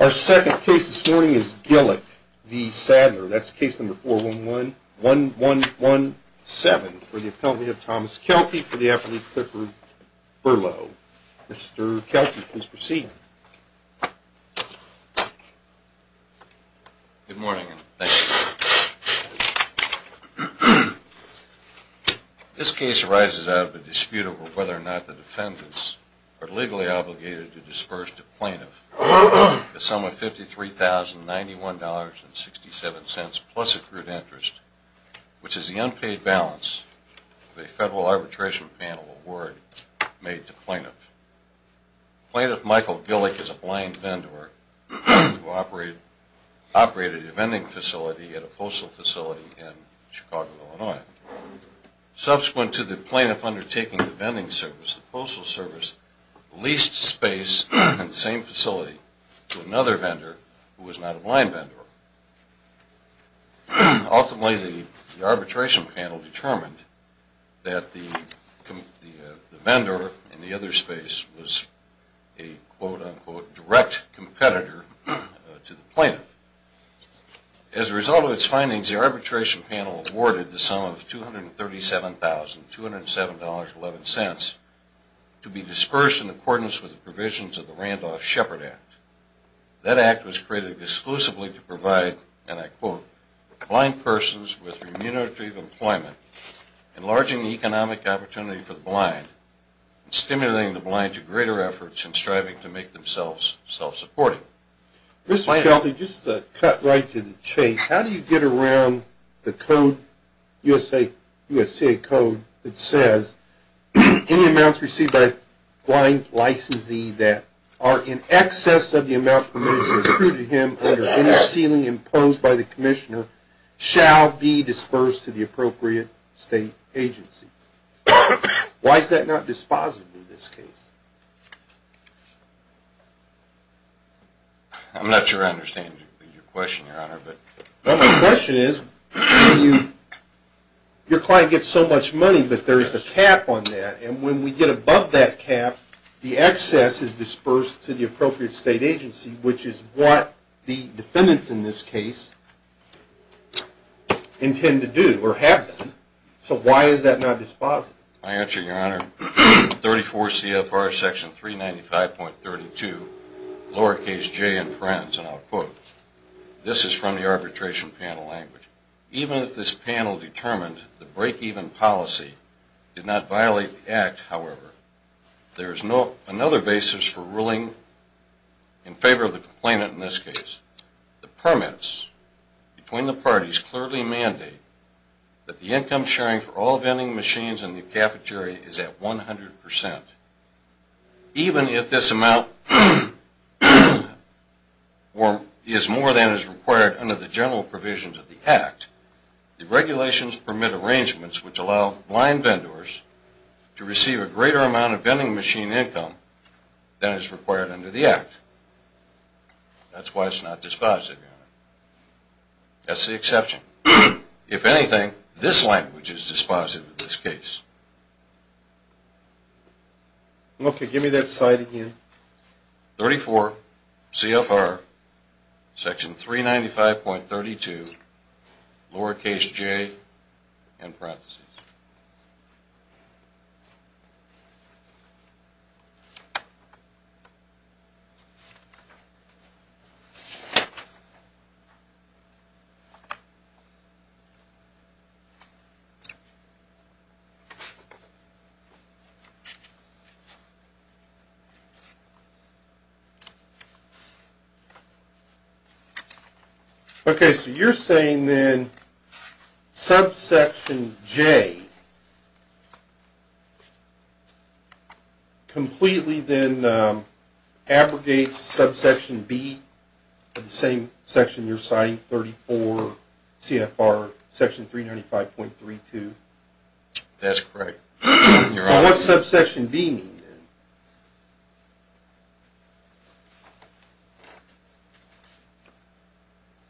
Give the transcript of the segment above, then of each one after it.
Our second case this morning is Gillick v. Saddler. That's case number 411-1117 for the appellate Thomas Kelty for the appellate Clifford Burlow. Mr. Kelty, please proceed. Good morning and thank you. This case arises out of a dispute over whether or not the defendants are legally obligated to disperse the plaintiff a sum of $53,091.67 plus accrued interest, which is the unpaid balance of a Federal Arbitration Panel award made to plaintiff. Plaintiff Michael Gillick is a blind vendor who operated a vending facility at a postal facility in Chicago, Illinois. Subsequent to the plaintiff undertaking the vending service, the postal service leased space in the same facility to another vendor who was not a blind vendor. Ultimately, the Arbitration Panel determined that the vendor in the other space was a quote-unquote direct competitor to the plaintiff. As a result of its findings, the Arbitration Panel awarded the sum of $237,207.11 to be dispersed in accordance with the provisions of the Randolph-Shepard Act. That Act was created exclusively to provide, and I quote, blind persons with remunerative employment, enlarging economic opportunity for the blind, and stimulating the blind to greater efforts in striving to make themselves self- profitable. I'm not sure I understand your question, Your Honor. Well, my question is, your client gets so much money, but there is a cap on that, and when we get above that cap, the excess is dispersed to the appropriate state agency, which is what the defendants in this case intend to do, or have done. So why is that not dispositive? My answer, Your Honor, 34 C.F.R. section 395.32, lowercase j in parens, and I'll quote. This is from the Arbitration Panel language. Even if this panel determined the break-even policy did not violate the Act, however, there is another basis for ruling in favor of the complainant in this case. The permits between the parties clearly mandate that the income sharing for all vending machines in the United States is more than is required under the general provisions of the Act. The regulations permit arrangements which allow blind vendors to receive a greater amount of vending machine income than is required under the Act. That's why it's not dispositive. That's the exception. If anything, this language is dispositive in this case. Okay, give me that side again. 34 C.F.R. section 395.32, lowercase j in parens. Okay, so you're saying then subsection j completely then abrogates subsection b of the same section you're citing, 34 C.F.R. section 395.32? That's correct. What does subsection b mean then?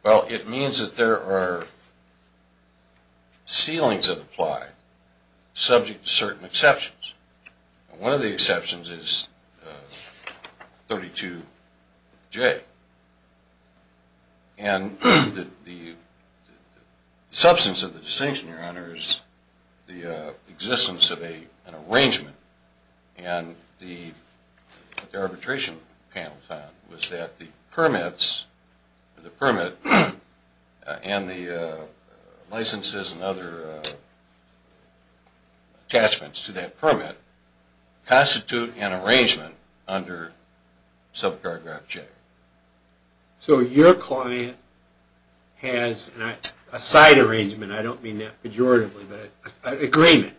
Well, it means that there are ceilings that apply subject to certain exceptions. One of the exceptions is 32 J. And the substance of the distinction, Your Honor, is the existence of an arrangement and the arbitration panel found was that the permits, the permit and the licenses and other attachments to that permit constitute an arrangement under sub-paragraph J. So your client has a side arrangement, I don't mean that pejoratively, but an agreement,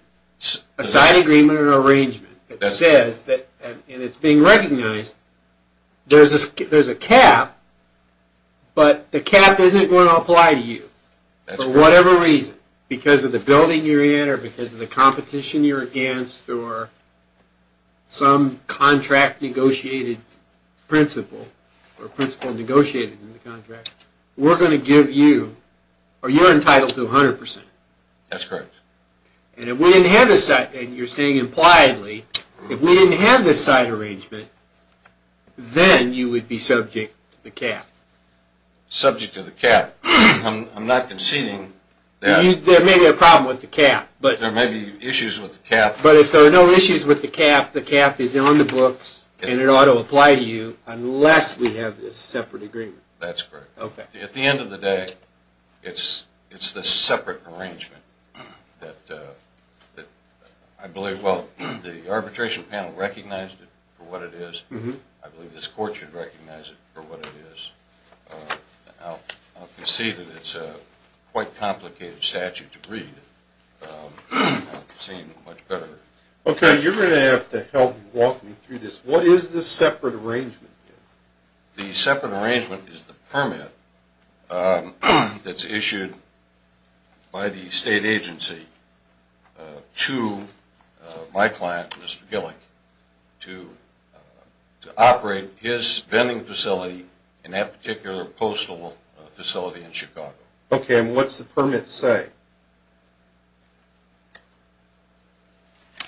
a side agreement or arrangement that says, and it's being recognized, there's a cap, but the cap isn't going to apply to you for whatever reason, because of the building you're in or because of the competition you're against or some contract negotiated principle or principle negotiated in the contract, we're going to give you, or you're entitled to 100%. That's correct. And if we didn't have a side, and you're saying impliedly, if we didn't have this side arrangement, then you would be subject to the cap. Subject to the cap. I'm not conceding that. There may be a problem with the cap. But there may be issues with the cap. But if there are no issues with the cap, the cap is on the books and it ought to apply to you unless we have this separate agreement. That's correct. Okay. At the end of the day, it's this separate arrangement that I believe, the arbitration panel recognized it for what it is. I believe this court should recognize it for what it is. I'll concede that it's a quite complicated statute to read. I've seen much better. Okay. You're going to have to help walk me through this. What is this separate arrangement? The separate arrangement is the permit that's issued by the state agency to my client, Mr. Gillick, to operate his vending facility in that particular postal facility in Chicago. Okay. And what's the permit say?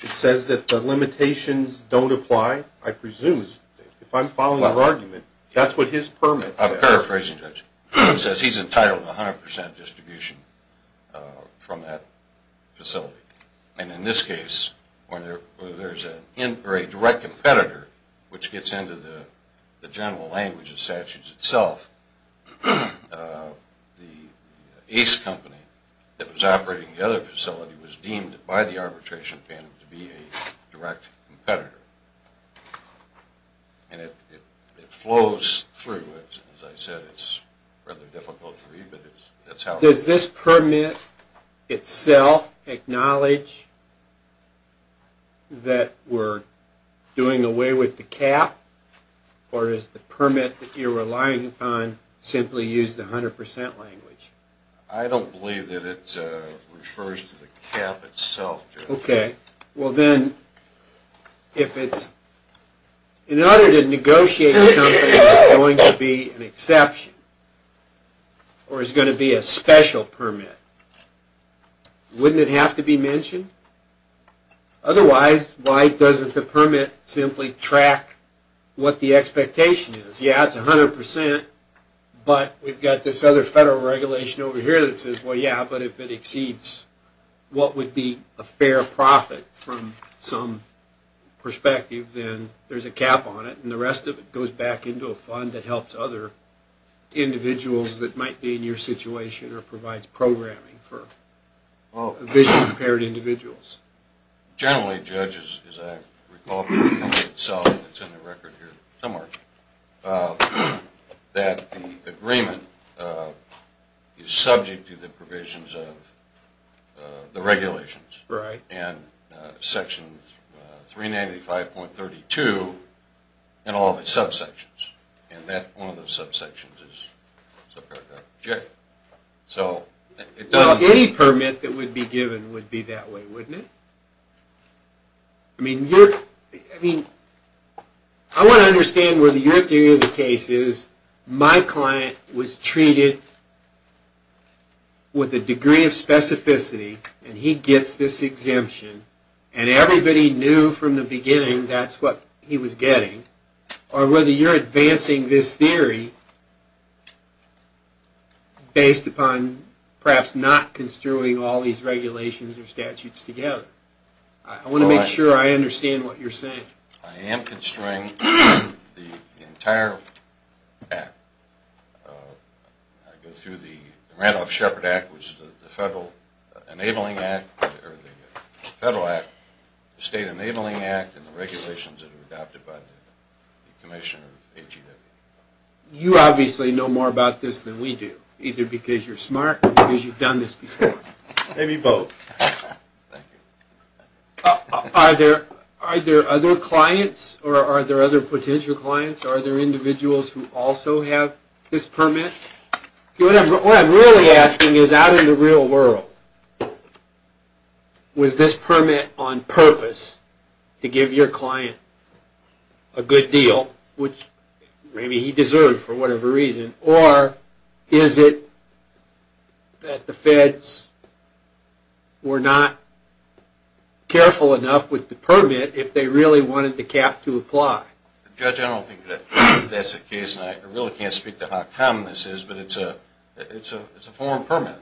It says that the limitations don't apply, I presume. If I'm following your argument, that's what his permit says. I'm paraphrasing, Judge. It says he's entitled to 100% distribution from that facility. And in this case, when there's a direct competitor, which gets into the general language of statutes itself, the ace company that was operating the other facility was deemed by the arbitration panel to be a direct competitor. And it flows through. As I said, it's rather difficult to read, but that's how it is. Does this permit itself acknowledge that we're doing away with the cap? Or is the permit that you're relying upon simply used the 100% language? I don't believe that it refers to the cap itself, Judge. Okay. Well then, in order to negotiate something that's going to be an exception, or is going to be a special permit, wouldn't it have to be mentioned? Otherwise, why doesn't the permit simply track what the expectation is? Yeah, it's 100%, but we've got this other federal regulation over here that says, well yeah, but if it exceeds what would be a fair profit from some perspective, then there's a cap on it, and the rest of it goes back into a fund that helps other individuals that might be in your situation or provides programming for vision impaired individuals. Generally, Judge, as I recall from the permit itself, it's in the record here somewhere, that the agreement is subject to the provisions of the regulations. Right. And section 395.32 and all the subsections, and that one of the subsections is subject. So it doesn't... Well, any permit that would be given would be that way, wouldn't it? I mean, I want to understand whether your theory of the case is my client was treated with a degree of specificity, and he gets this exemption, and everybody knew from the beginning that's what he was getting, or whether you're advancing this theory based upon perhaps not construing all these regulations or statutes together. I want to make sure I understand what you're saying. I am construing the entire act. I go through the Randolph-Shepard Act, which is the Federal Enabling Act, or the Federal Act, the State Enabling Act, and the regulations that are adopted by the Commissioner of AGW. You obviously know more about this than we do, either because you're smart, or because you've done this before. Maybe both. Are there other clients, or are there other potential clients, or are there individuals who also have this permit? What I'm really asking is, out in the real world, was this permit on purpose to give your client a good deal, which maybe he that the feds were not careful enough with the permit if they really wanted the cap to apply? Judge, I don't think that's the case, and I really can't speak to how common this is, but it's a foreign permit,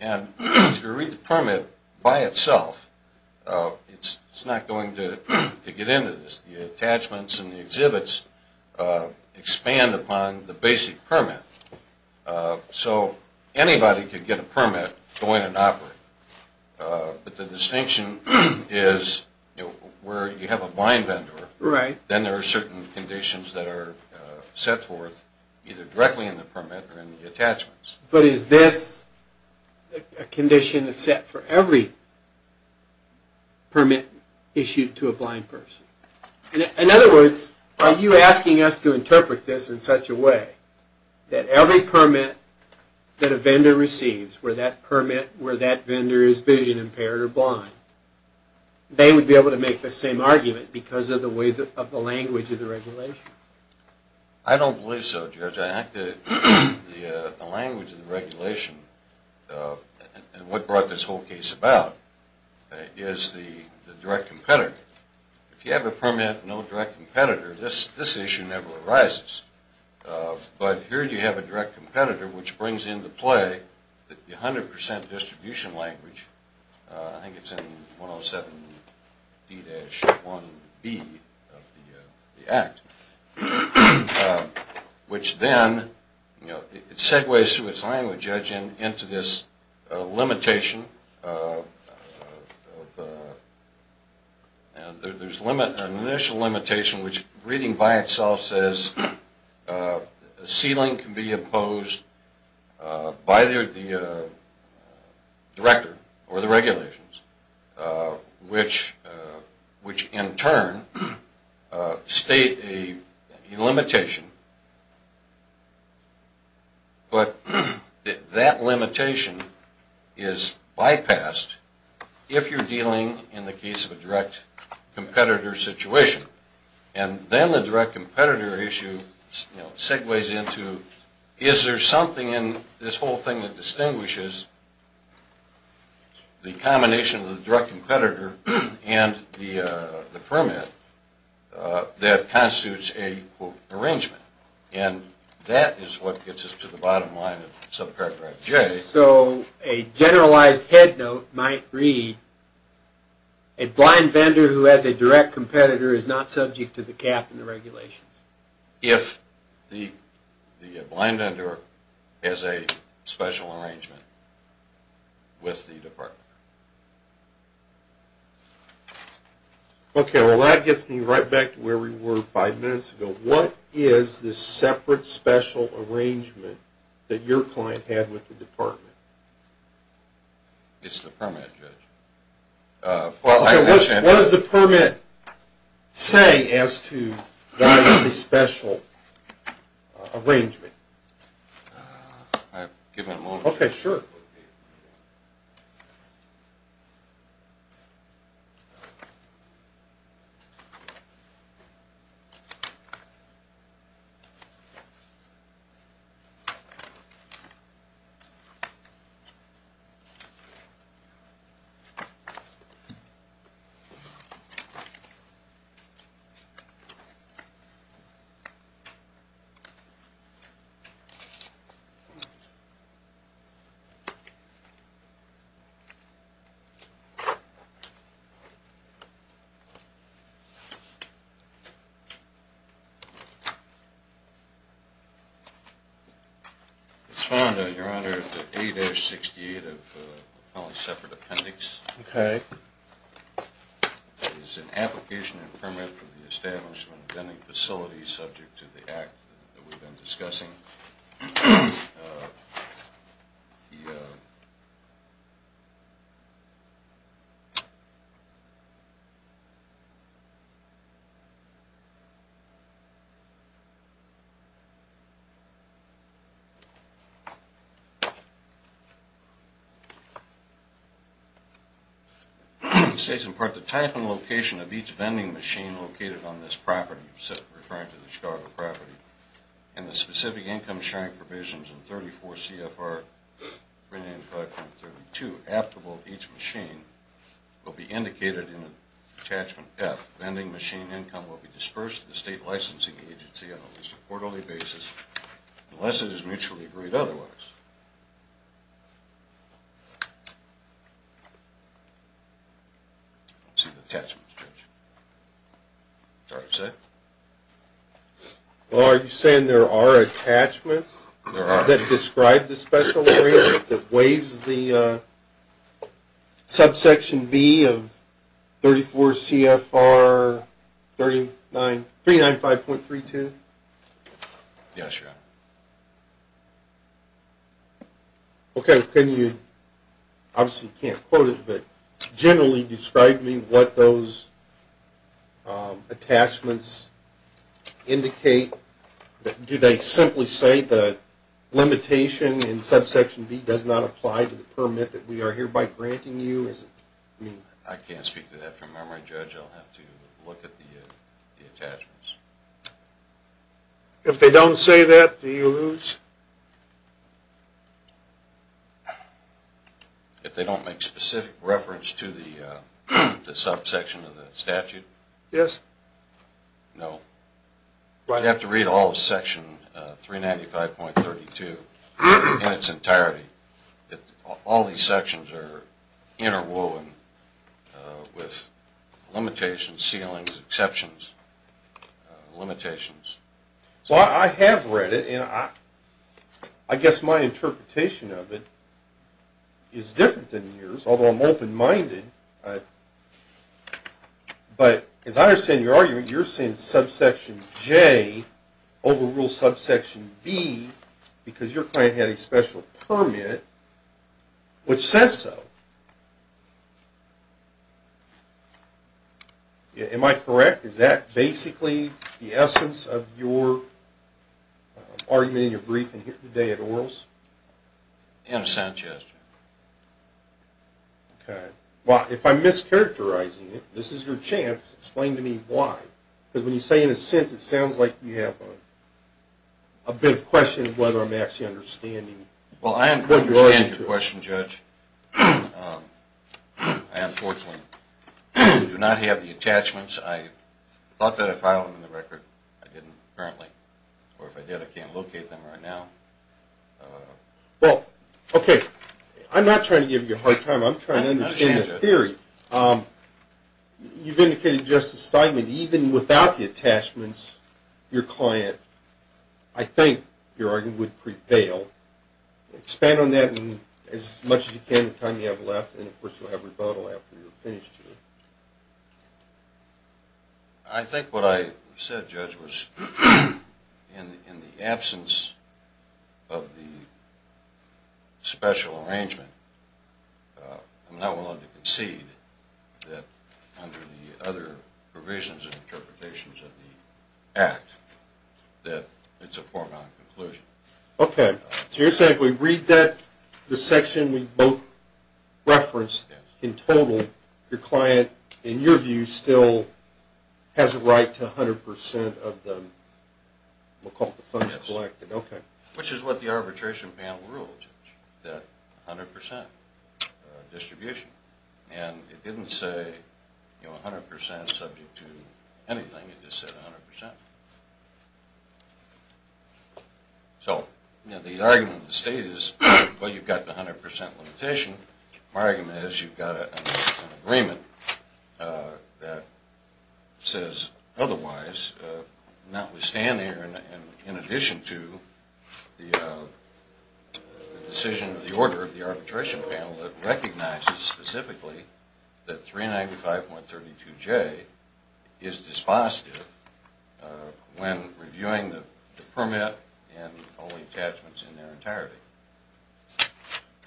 and if you read the permit by itself, it's not going to get into this. The attachments and the exhibits expand upon the basic permit. So anybody could get a permit, go in and operate, but the distinction is where you have a blind vendor, then there are certain conditions that are set forth either directly in the permit or in the attachments. But is this a condition that's set for every permit issued to a blind person? In other words, are you asking us to interpret this in such a way that every permit that a vendor receives, where that vendor is vision impaired or blind, they would be able to make the same argument because of the language of the regulation? I don't believe so, Judge. I think the language of the regulation and what brought this whole case about is the direct competitor. If you have a permit, no direct competitor, this issue never arises. But here you have a direct competitor, which brings into play the 100 percent distribution language, I think it's in 107D-1B of the Act, which then, you know, it segues through its language, Judge, into this limitation. There's an initial limitation, which reading by itself says a ceiling can be imposed by the director or the regulations, which in turn state a limitation. But that limitation is bypassed if you're dealing in the case of a direct competitor situation. And then the direct competitor issue segues into, is there something in this whole thing that distinguishes the combination of the direct competitor and the permit that constitutes an arrangement? And that is what gets us to the bottom line of subpart J. So a generalized head note might read, a blind vendor who has a direct competitor is not subject to the cap and the regulations. If the blind vendor has a special arrangement with the department. Okay, well that gets me right back to where we were five minutes ago. What is the separate special arrangement that your client had with the department? It's the permit, Judge. What does the permit say as to a special arrangement? I'll give it a moment. Okay, sure. Okay. It's found, Your Honor, that 8-68 of the separate appendix is an application and permit for the establishment of any facility subject to the act that we've been discussing. It states, in part, the type and location of each vending machine located on this property, referring to the Chicago property, and the specific income-sharing provisions in 34 CFR 395.32 applicable to each machine will be indicated in attachment F. Vending machine income will be dispersed to the state licensing agency on at least a quarterly basis unless it is mutually agreed otherwise. Let's see the attachments, Judge. Is that all right to say? Well, are you saying there are attachments that describe the special arrangement that waives the 395.32? Yes, Your Honor. Okay. Can you, obviously you can't quote it, but generally describe to me what those attachments indicate? Do they simply say the limitation in subsection B does not apply to the permit that we are hereby granting you? I can't speak to that from memory, Judge. I'll have to look at the attachments. If they don't say that, do you lose? If they don't make specific reference to the subsection of the statute? Yes. No. You have to read all of section 395.32 in its entirety. All these sections are interwoven with limitations, ceilings, exceptions, limitations. Well, I have read it and I guess my interpretation of it is different than yours, although I'm open-minded. But as I understand your argument, you're saying subsection J overrules subsection B because your client had a special permit which says so. Am I correct? Is that basically the essence of your argument in your briefing here today at Orals? Innocent, yes. Okay. Well, if I'm mischaracterizing it, this is your chance. Explain to me why. Because when you say, in a sense, it sounds like you have a bit of a question of whether I'm actually understanding what you're arguing to us. Well, I understand your question, Judge. I unfortunately do not have the attachments. I thought that I filed them in the record. I didn't, apparently. Or if I did, I can't locate them right now. Well, okay. I'm not trying to give you a hard time. I'm trying to understand the theory. You've indicated just assignment. Even without the attachments, your client, I think, your argument would prevail. Expand on that as much as you can, the time you have left, and of course you'll have rebuttal after you're finished here. I think what I said, Judge, was in the absence of the special arrangement, I'm not willing to concede that under the other provisions and interpretations of the Act, that it's a foregone conclusion. Okay. So you're saying if we read that, the section we both referenced, in total, your client, in your view, still has a right to 100% of the funds collected? Okay. Which is what the arbitration panel ruled, that 100% distribution. And it didn't say, you know, 100% subject to anything. It just said 100%. So, you know, the argument of the State is, well, you've got the 100% limitation. My argument is you've got an agreement that says otherwise, notwithstanding, in addition to the decision of the order of the arbitration panel that recognizes specifically that 395.32j is dispositive when reviewing the permit and all the attachments in their entirety.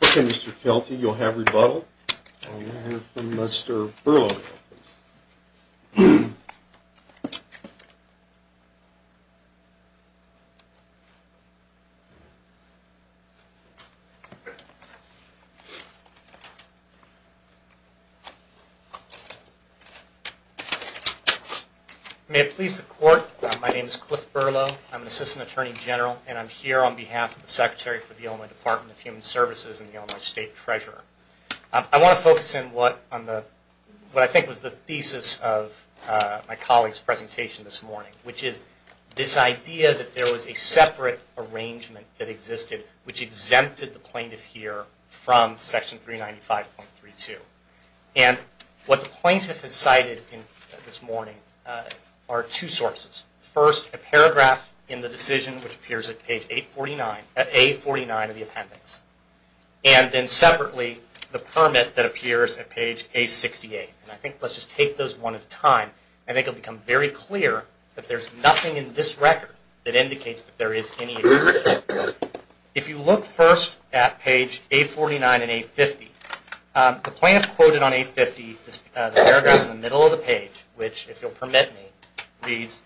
Okay, Mr. Kelty, you'll have rebuttal. I'll have Mr. Berlow. May it please the Court, my name is Cliff Berlow. I'm an Assistant Attorney General, and I'm here on behalf of the Secretary for the Illinois Department of Human Services and the Illinois State Treasurer. I want to focus in what I think was the thesis of my colleague's separate arrangement that existed, which exempted the plaintiff here from section 395.32. And what the plaintiff has cited this morning are two sources. First, a paragraph in the decision which appears at page 849, at A49 of the appendix. And then separately, the permit that appears at page A68. And I think let's just take those one at a time. I think it'll become very clear that there's nothing in this record that indicates that there is any exception. If you look first at page A49 and A50, the plaintiff quoted on A50, this paragraph in the middle of the page, which if you'll permit me, reads,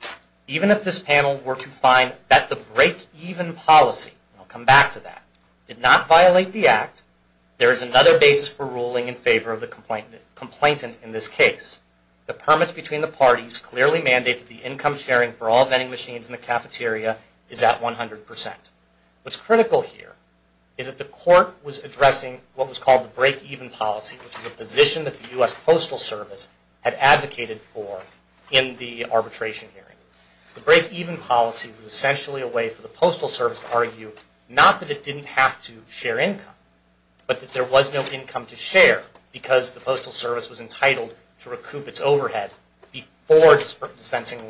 even if this panel were to find that the break-even policy, and I'll come back to that, did not violate the Act, there is another basis for ruling in favor of the complainant in this case. The permits between the parties clearly mandate that the income sharing for all vending machines in the cafeteria is at 100%. What's critical here is that the court was addressing what was called the break-even policy, which was a position that the U.S. Postal Service had advocated for in the arbitration hearing. The break-even policy was essentially a way for the Postal Service to argue, not that it didn't have to share income, but that there was no income to share because the Postal Service was entitled to recoup its overhead before dispersing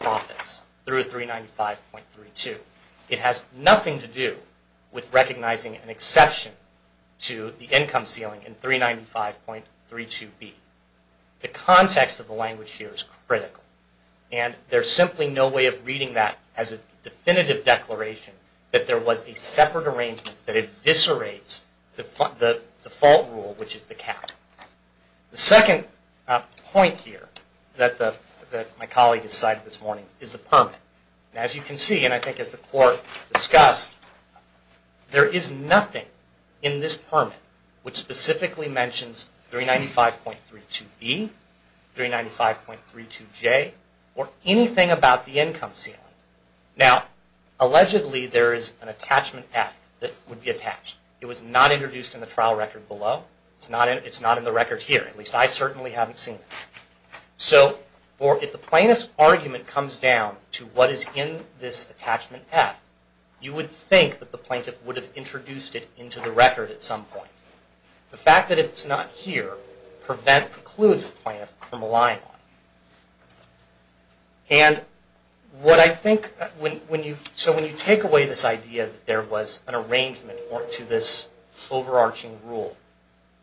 profits through 395.32. It has nothing to do with recognizing an exception to the income ceiling in 395.32b. The context of the language here is critical, and there's simply no way of reading that as a definitive declaration that there was a separate arrangement that eviscerates the default rule, which is the cap. The second point here that my colleague has cited this morning is the permit. As you can see, and I think as the court discussed, there is nothing in this permit which specifically mentions 395.32b, 395.32j, or anything about the income ceiling. Now, allegedly there is an attachment F that would be attached. It was not introduced in the trial record below. It's not in the record here, at least I certainly haven't seen it. So, if the plaintiff's argument comes down to what is in this attachment F, you would think that the plaintiff would have introduced it into the court. So, when you take away this idea that there was an arrangement to this overarching rule,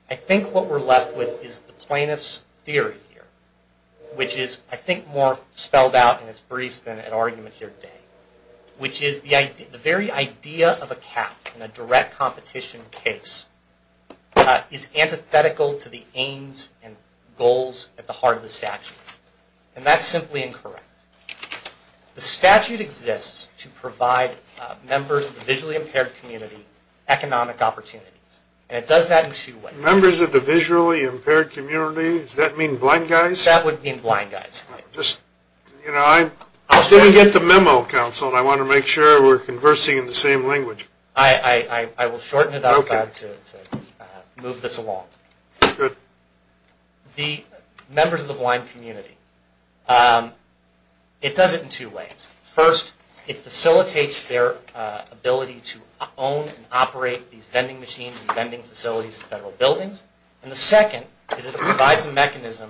I think what we're left with is the plaintiff's theory here, which is I think more spelled out in its brief than an argument here today, which is the very idea of a cap in a direct competition case is antithetical to the aims and goals at the heart of the statute. And that's simply incorrect. The statute exists to provide members of the visually impaired community economic opportunities, and it does that in two ways. Members of the visually impaired community, does that mean blind guys? That would mean blind guys. Just, you know, I didn't get the memo and I want to make sure we're conversing in the same language. I will shorten it up to move this along. Good. The members of the blind community, it does it in two ways. First, it facilitates their ability to own and operate these vending machines and vending facilities in federal buildings. And the second is it provides a mechanism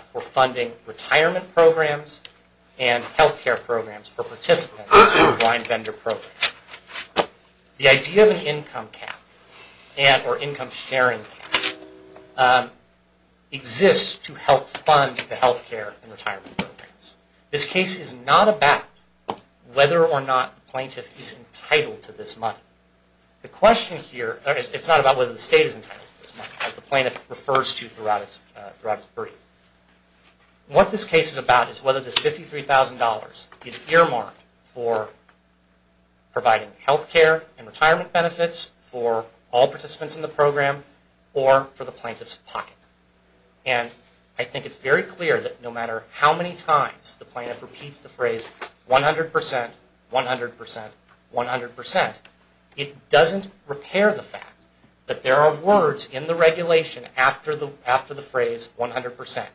for funding retirement programs and health care programs for participants in blind vendor programs. The idea of an income cap, or income sharing cap, exists to help fund the health care and retirement programs. This case is not about whether or not the plaintiff is entitled to this money. The question here, it's not about whether the state is entitled to this money, as the $53,000 is earmarked for providing health care and retirement benefits for all participants in the program or for the plaintiff's pocket. And I think it's very clear that no matter how many times the plaintiff repeats the phrase 100%, 100%, 100%, it doesn't repair the fact that there are in the regulation after the phrase 100%.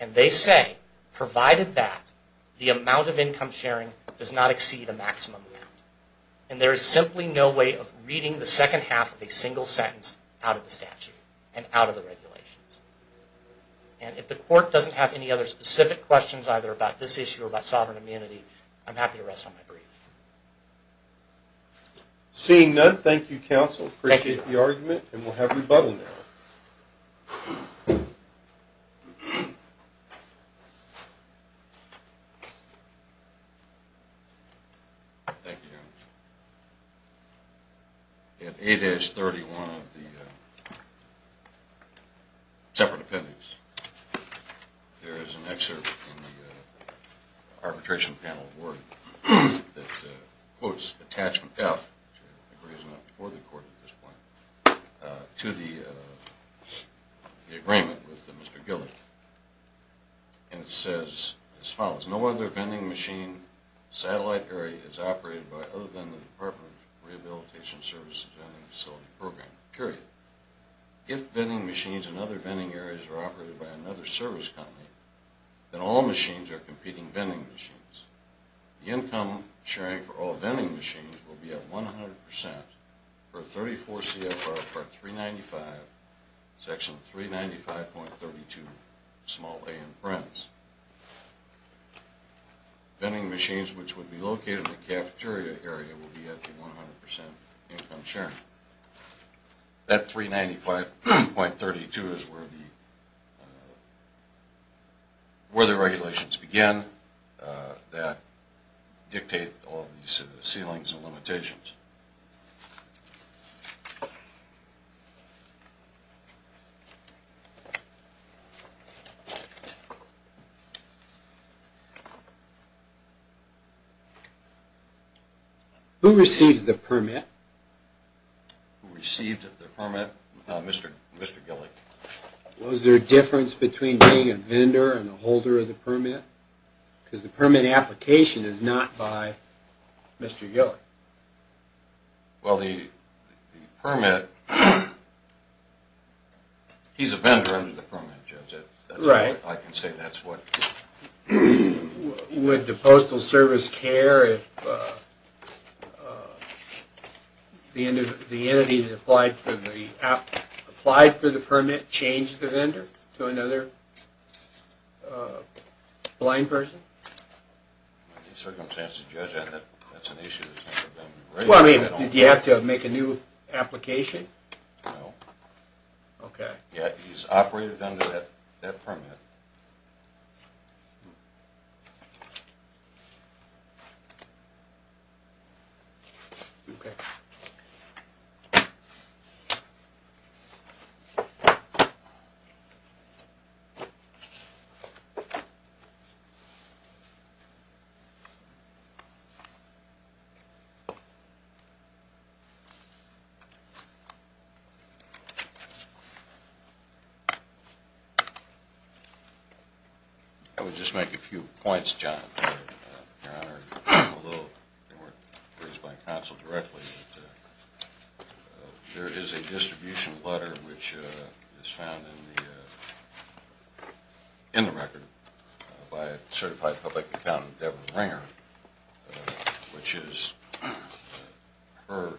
And they say, provided that, the amount of income sharing does not exceed a maximum amount. And there is simply no way of reading the second half of a single sentence out of the statute and out of the regulations. And if the court doesn't have any other specific questions either about this issue or about sovereign immunity, I'm happy to rest on my breath. Seeing none, thank you, counsel. Appreciate the argument, and we'll have rebuttal now. Thank you, Your Honor. At 8-31 of the separate appendix, there is an excerpt from the arbitration panel word that quotes attachment F, which I don't think to the agreement with Mr. Gillick. And it says as follows, no other vending machine satellite area is operated by other than the Department of Rehabilitation Services Vending Facility Program, period. If vending machines in other vending areas are operated by another service company, then all machines are competing vending machines. The income sharing for all 395, section 395.32, small a and friends. Vending machines which would be located in the cafeteria area will be at the 100% income sharing. That 395.32 is where the regulations begin that dictate all of these ceilings and limitations. Who received the permit? Who received the permit? Mr. Gillick. Was there a difference between being a vendor and a holder of the permit? Because the permit application is not by Mr. Gillick. Well, the permit, he's a vendor under the permit, Judge. I can say that's what... Would the Postal Service care if the entity that applied for the permit changed the vendor to another blind person? Under the circumstances, Judge, I think that's an issue. Well, I mean, did he have to make a new application? No. Okay. Yeah, he's operated under that permit. Okay. Thank you. I would just make a few points, John. Your Honor, although they weren't raised by counsel directly, there is a distribution letter which is found in the record by a certified public accountant, Deborah Ringer, which is her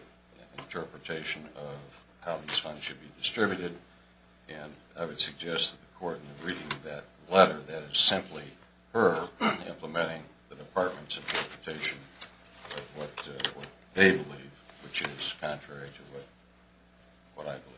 interpretation of how these funds should be distributed. And I would suggest that the Court, in reading that letter, that is simply her implementing the Department's interpretation of what they believe, which is contrary to what I believe. Okay.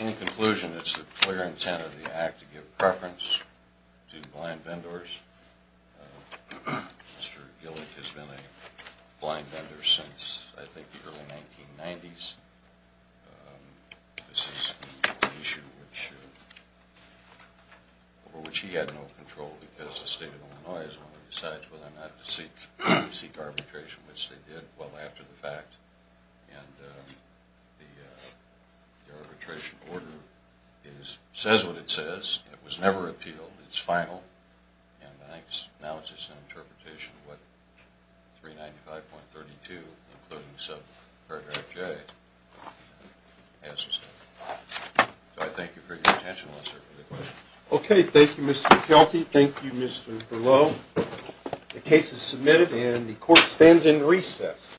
In conclusion, it's the clear intent of the Act to give preference to blind vendors. Mr. Gillick has been a blind vendor since, I think, the early 1990s. This is an issue over which he had no control because the State of Illinois has only decided for them not to seek arbitration, which they did well after the fact. And the arbitration order says what it says. It was never appealed. It's final. And I think now it's just an interpretation of what 395.32, including subparagraph J, has to say. So I thank you for your attention. I'll answer any questions. Okay. Thank you, Mr. Fialti. Thank you, Mr. Berleau. The case is submitted and the Court stands in recess.